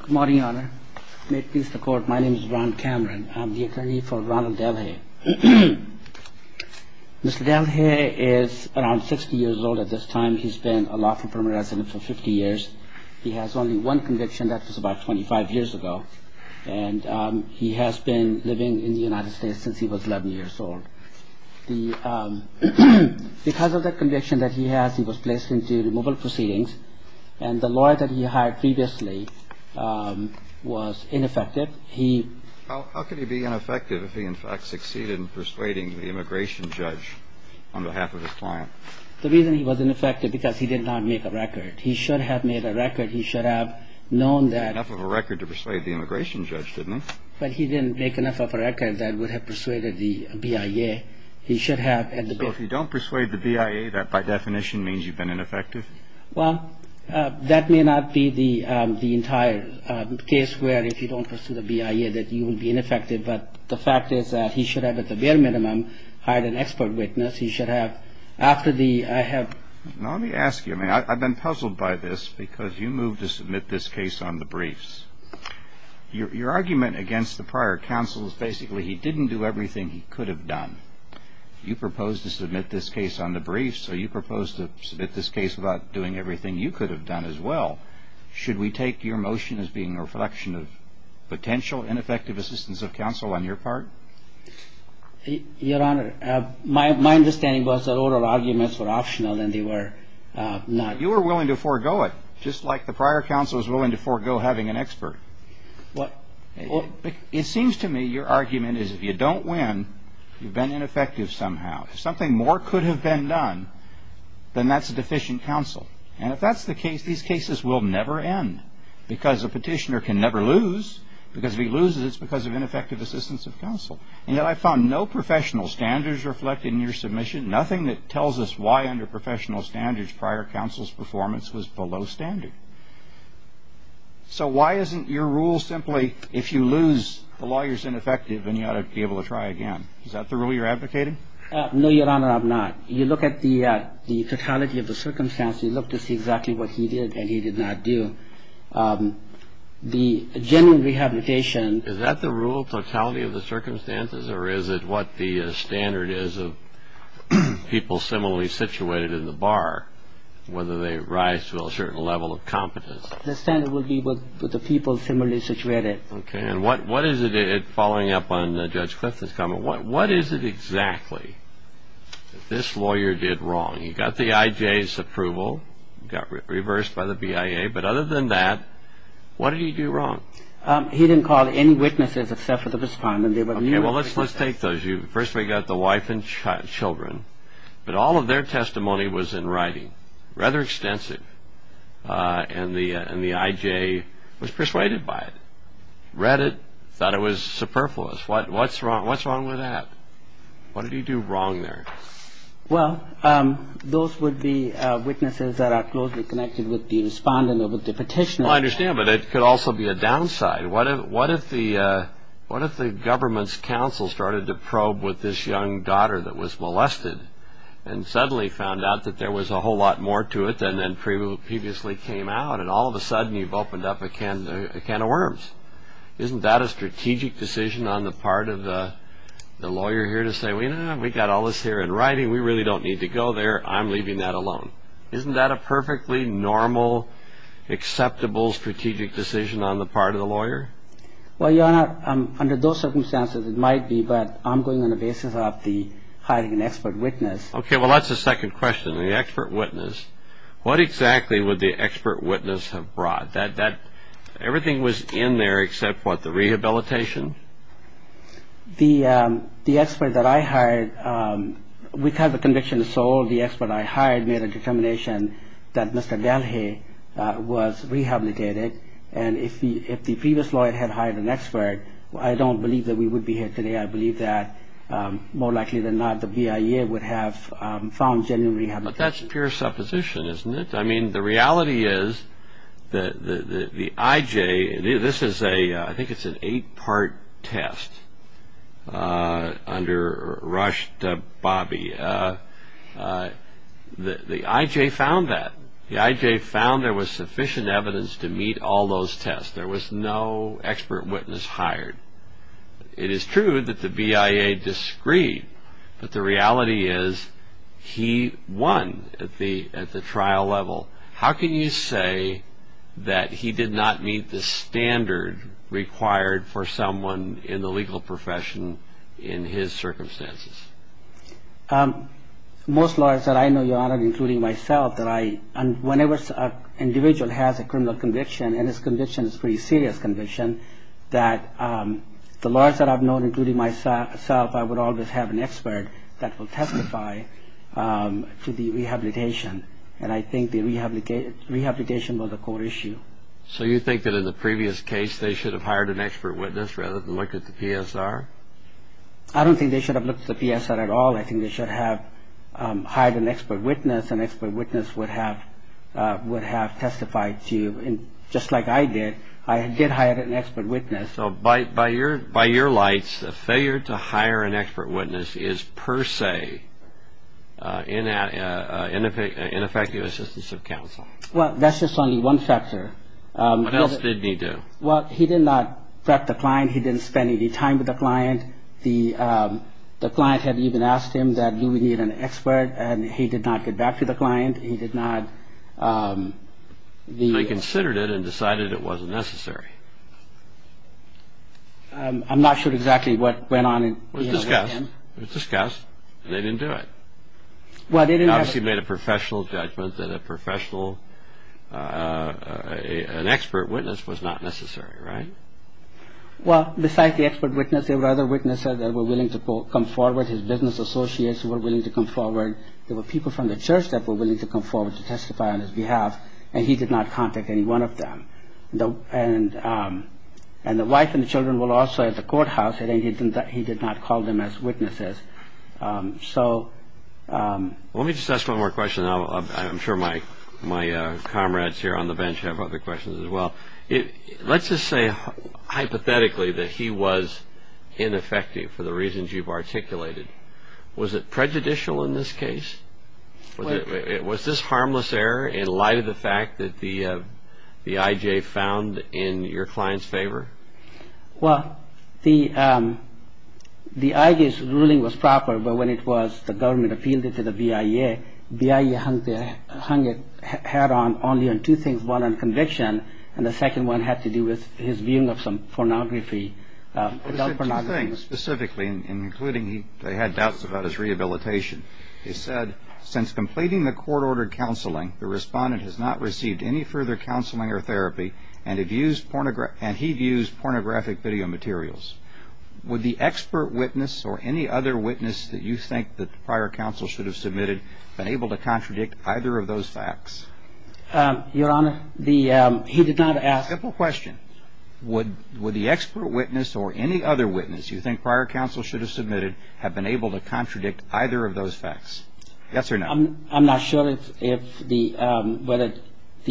Good morning, Your Honor. May it please the Court, my name is Ron Cameron. I'm the attorney for Ronald Delhaye. Mr. Delhaye is around 60 years old at this time. He's been a lawful permanent resident for 50 years. He has only one conviction. That was about 25 years ago. And he has been living in the United States since he was 11 years old. Because of the conviction that he has, he was placed into removal proceedings. And the lawyer that he hired previously was ineffective. How could he be ineffective if he, in fact, succeeded in persuading the immigration judge on behalf of his client? The reason he was ineffective is because he did not make a record. He should have made a record. He should have known that. He had enough of a record to persuade the immigration judge, didn't he? But he didn't make enough of a record that would have persuaded the BIA. So if you don't persuade the BIA, that, by definition, means you've been ineffective? Well, that may not be the entire case where, if you don't pursue the BIA, that you will be ineffective. But the fact is that he should have, at the bare minimum, hired an expert witness. He should have. After the I have. Now, let me ask you. I mean, I've been puzzled by this because you moved to submit this case on the briefs. Your argument against the prior counsel is basically he didn't do everything he could have done. You proposed to submit this case on the briefs. So you proposed to submit this case without doing everything you could have done as well. Should we take your motion as being a reflection of potential ineffective assistance of counsel on your part? Your Honor, my understanding was that oral arguments were optional and they were not. You were willing to forego it, just like the prior counsel is willing to forego having an expert. Well, it seems to me your argument is if you don't win, you've been ineffective somehow. If something more could have been done, then that's a deficient counsel. And if that's the case, these cases will never end because a petitioner can never lose. Because if he loses, it's because of ineffective assistance of counsel. And yet I found no professional standards reflected in your submission, nothing that tells us why under professional standards prior counsel's performance was below standard. So why isn't your rule simply if you lose, the lawyer's ineffective and you ought to be able to try again? Is that the rule you're advocating? No, Your Honor, I'm not. You look at the totality of the circumstances. You look to see exactly what he did and he did not do. The general rehabilitation. Is that the rule, totality of the circumstances, or is it what the standard is of people similarly situated in the bar, whether they rise to a certain level of competence? The standard would be with the people similarly situated. Okay, and what is it, following up on Judge Clifton's comment, what is it exactly that this lawyer did wrong? He got the IJ's approval, got reversed by the BIA, but other than that, what did he do wrong? He didn't call any witnesses except for the respondent. Okay, well, let's take those. First we got the wife and children, but all of their testimony was in writing, rather extensive, and the IJ was persuaded by it, read it, thought it was superfluous. What's wrong with that? What did he do wrong there? Well, those would be witnesses that are closely connected with the respondent or with the petitioner. I understand, but it could also be a downside. What if the government's counsel started to probe with this young daughter that was molested and suddenly found out that there was a whole lot more to it than previously came out, and all of a sudden you've opened up a can of worms? Isn't that a strategic decision on the part of the lawyer here to say, we got all this here in writing, we really don't need to go there, I'm leaving that alone. Isn't that a perfectly normal, acceptable strategic decision on the part of the lawyer? Well, Your Honor, under those circumstances it might be, but I'm going on the basis of the hiring an expert witness. Okay, well, that's the second question, the expert witness. What exactly would the expert witness have brought? Everything was in there except, what, the rehabilitation? The expert that I hired, because the conviction is sold, the expert I hired made a determination that Mr. Galhey was rehabilitated, and if the previous lawyer had hired an expert, I don't believe that we would be here today. I believe that, more likely than not, the BIA would have found genuine rehabilitation. But that's pure supposition, isn't it? I mean, the reality is that the IJ, this is a, I think it's an eight-part test, under Rush Dababi, the IJ found that. The IJ found there was sufficient evidence to meet all those tests. There was no expert witness hired. It is true that the BIA disagreed, but the reality is he won at the trial level. How can you say that he did not meet the standard required for someone in the legal profession in his circumstances? Most lawyers that I know, Your Honor, including myself, that I, whenever an individual has a criminal conviction, and his conviction is a pretty serious conviction, that the lawyers that I've known, including myself, I would always have an expert that will testify to the rehabilitation, and I think the rehabilitation was a core issue. So you think that in the previous case they should have hired an expert witness rather than looked at the PSR? I don't think they should have looked at the PSR at all. I think they should have hired an expert witness, an expert witness would have testified to, just like I did. I did hire an expert witness. So by your lights, the failure to hire an expert witness is per se an ineffective assistance of counsel? Well, that's just only one factor. What else did he do? Well, he did not threat the client. He didn't spend any time with the client. And the client had even asked him that do we need an expert, and he did not get back to the client. He did not. They considered it and decided it wasn't necessary. I'm not sure exactly what went on. It was discussed. It was discussed, and they didn't do it. They obviously made a professional judgment that a professional, an expert witness was not necessary, right? Well, besides the expert witness, there were other witnesses that were willing to come forward, his business associates who were willing to come forward. There were people from the church that were willing to come forward to testify on his behalf, and he did not contact any one of them. And the wife and the children were also at the courthouse, and he did not call them as witnesses. So... Let me just ask one more question. I'm sure my comrades here on the bench have other questions as well. Let's just say hypothetically that he was ineffective for the reasons you've articulated. Was it prejudicial in this case? Was this harmless error in light of the fact that the I.J. found in your client's favor? Well, the I.J.'s ruling was proper, but when it was the government appealed it to the BIA, BIA hung a hat on only on two things, one on conviction, and the second one had to do with his viewing of some pornography, adult pornography. Well, they said two things specifically, and including they had doubts about his rehabilitation. They said, since completing the court-ordered counseling, the respondent has not received any further counseling or therapy, and he views pornographic video materials. Would the expert witness or any other witness that you think the prior counsel should have submitted have been able to contradict either of those facts? Your Honor, the he did not ask... Simple question. Would the expert witness or any other witness you think prior counsel should have submitted have been able to contradict either of those facts? Yes or no? I'm not sure if the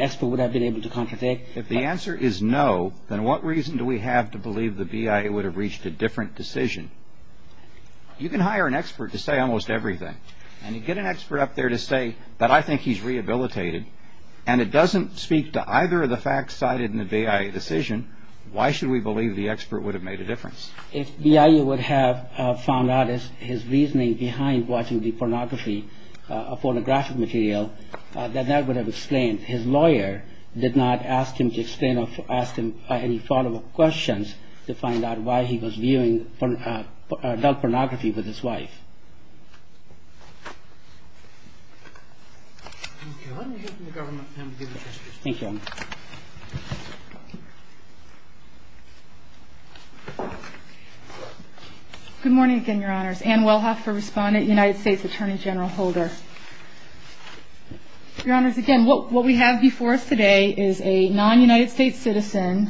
expert would have been able to contradict. If the answer is no, then what reason do we have to believe the BIA would have reached a different decision? You can hire an expert to say almost everything, and you get an expert up there to say that I think he's rehabilitated, and it doesn't speak to either of the facts cited in the BIA decision, why should we believe the expert would have made a difference? If BIA would have found out his reasoning behind watching the pornography, a pornographic material, then that would have explained. His lawyer did not ask him to explain or ask him any follow-up questions to find out why he was viewing adult pornography with his wife. Thank you. Why don't we go to the government and give it a chance. Thank you, Your Honor. Good morning again, Your Honors. Ann Wellhoff for Respondent, United States Attorney General Holder. Your Honors, again, what we have before us today is a non-United States citizen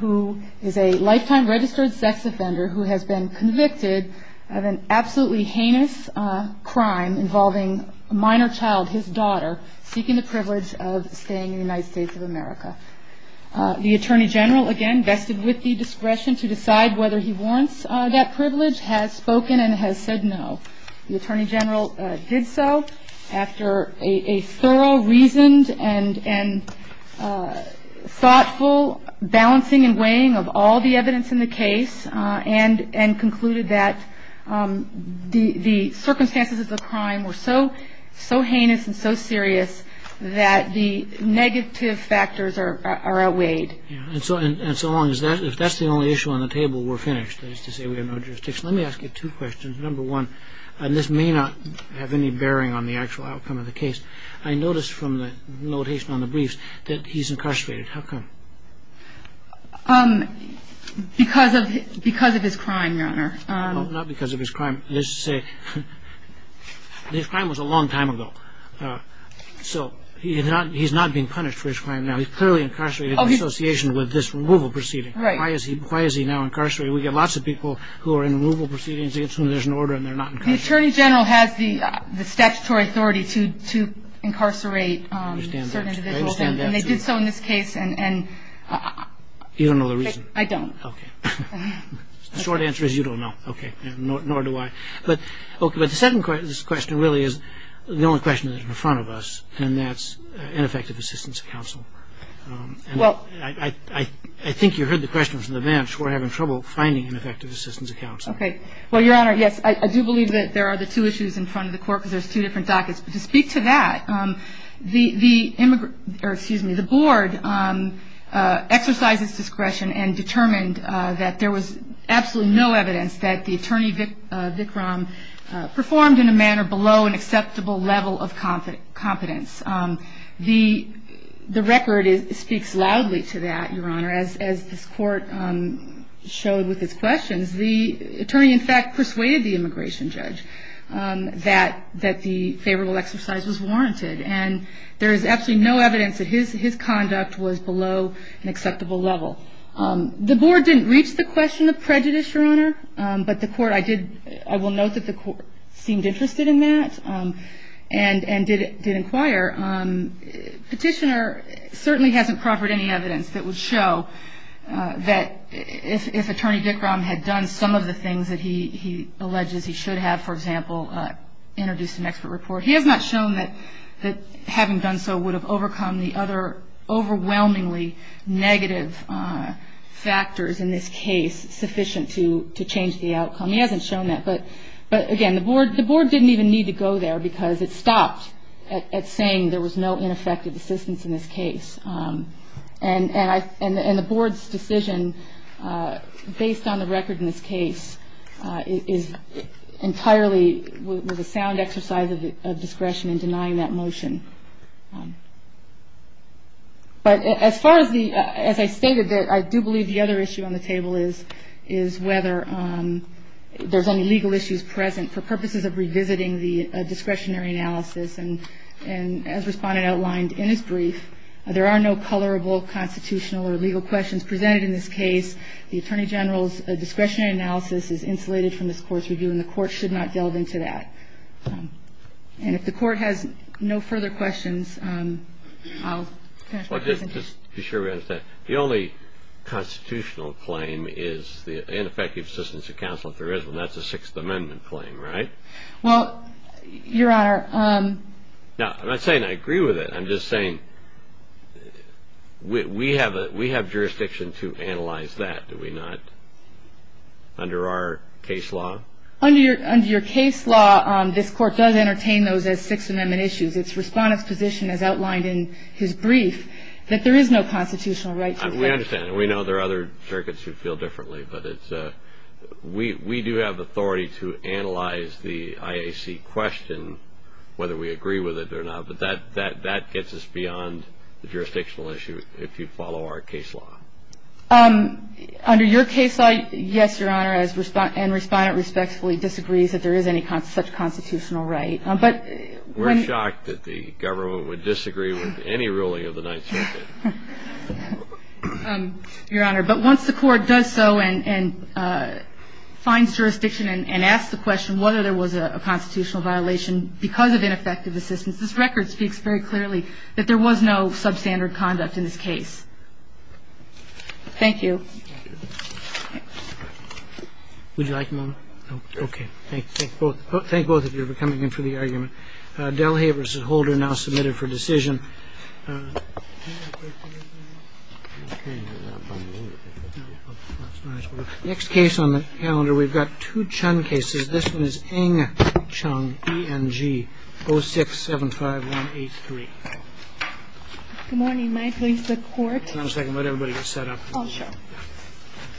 who is a lifetime registered sex offender who has been convicted of an absolutely heinous crime involving a minor child, his daughter, seeking the privilege of staying in the United States of America. The Attorney General, again, vested with the discretion to decide whether he warrants that privilege, has spoken and has said no. The Attorney General did so after a thorough, reasoned, and thoughtful balancing and weighing of all the evidence in the case and concluded that the circumstances of the crime were so heinous and so serious that the negative factors are outweighed. And so long as that's the only issue on the table, we're finished. That is to say we have no jurisdiction. Let me ask you two questions. Number one, and this may not have any bearing on the actual outcome of the case, I noticed from the notation on the briefs that he's incarcerated. How come? Because of his crime, Your Honor. Not because of his crime. Let's just say his crime was a long time ago. So he's not being punished for his crime now. He's clearly incarcerated in association with this removal proceeding. Why is he now incarcerated? We've got lots of people who are in removal proceedings against whom there's an order and they're not incarcerated. The Attorney General has the statutory authority to incarcerate certain individuals, and they did so in this case. You don't know the reason? I don't. Okay. The short answer is you don't know. Okay. Nor do I. But the second question really is the only question that's in front of us, and that's ineffective assistance of counsel. And I think you heard the question from the bench. We're having trouble finding ineffective assistance of counsel. Okay. Well, Your Honor, yes, I do believe that there are the two issues in front of the court because there's two different dockets. But to speak to that, the board exercised its discretion and determined that there was absolutely no evidence that the attorney, Vikram, performed in a manner below an acceptable level of competence. The record speaks loudly to that, Your Honor. As this court showed with its questions, the attorney in fact persuaded the immigration judge that the favorable exercise was warranted. And there is absolutely no evidence that his conduct was below an acceptable level. The board didn't reach the question of prejudice, Your Honor, but I will note that the court seemed interested in that and did inquire. Petitioner certainly hasn't proffered any evidence that would show that if Attorney Vikram had done some of the things that he alleges he should have, for example, introduced an expert report, he has not shown that having done so would have overcome the other overwhelmingly negative factors in this case sufficient to change the outcome. He hasn't shown that. But again, the board didn't even need to go there because it stopped at saying there was no ineffective assistance in this case. And the board's decision based on the record in this case is entirely with a sound exercise of discretion in denying that motion. But as far as the – as I stated, I do believe the other issue on the table is whether there's only legal issues present for purposes of revisiting the discretionary analysis. And as Respondent outlined in his brief, there are no colorable constitutional or legal questions presented in this case. The Attorney General's discretionary analysis is insulated from this Court's review, and the Court should not delve into that. And if the Court has no further questions, I'll finish my presentation. Well, just to be sure we understand, the only constitutional claim is the ineffective assistance of counsel if there is one. That's a Sixth Amendment claim, right? Well, Your Honor. Now, I'm not saying I agree with it. I'm just saying we have jurisdiction to analyze that, do we not, under our case law? Under your case law, this Court does entertain those as Sixth Amendment issues. It's Respondent's position, as outlined in his brief, that there is no constitutional right to effect it. We understand. We know there are other circuits who feel differently. But it's – we do have authority to analyze the IAC question, whether we agree with it or not. But that gets us beyond the jurisdictional issue if you follow our case law. Under your case law, yes, Your Honor, and Respondent respectfully disagrees that there is any such constitutional right. But when – We're shocked that the government would disagree with any ruling of the Ninth Circuit. Your Honor, but once the Court does so and finds jurisdiction and asks the question whether there was a constitutional violation because of ineffective assistance, this record speaks very clearly that there was no substandard conduct in this case. Thank you. Would you like a moment? Okay. Thank you. Thank both of you for coming in for the argument. Delahaye v. Holder now submitted for decision. Next case on the calendar, we've got two Chun cases. This one is Ng Chung, ENG 0675183. Good morning. May I please have the Court? One second. Let everybody get set up. Oh, sure.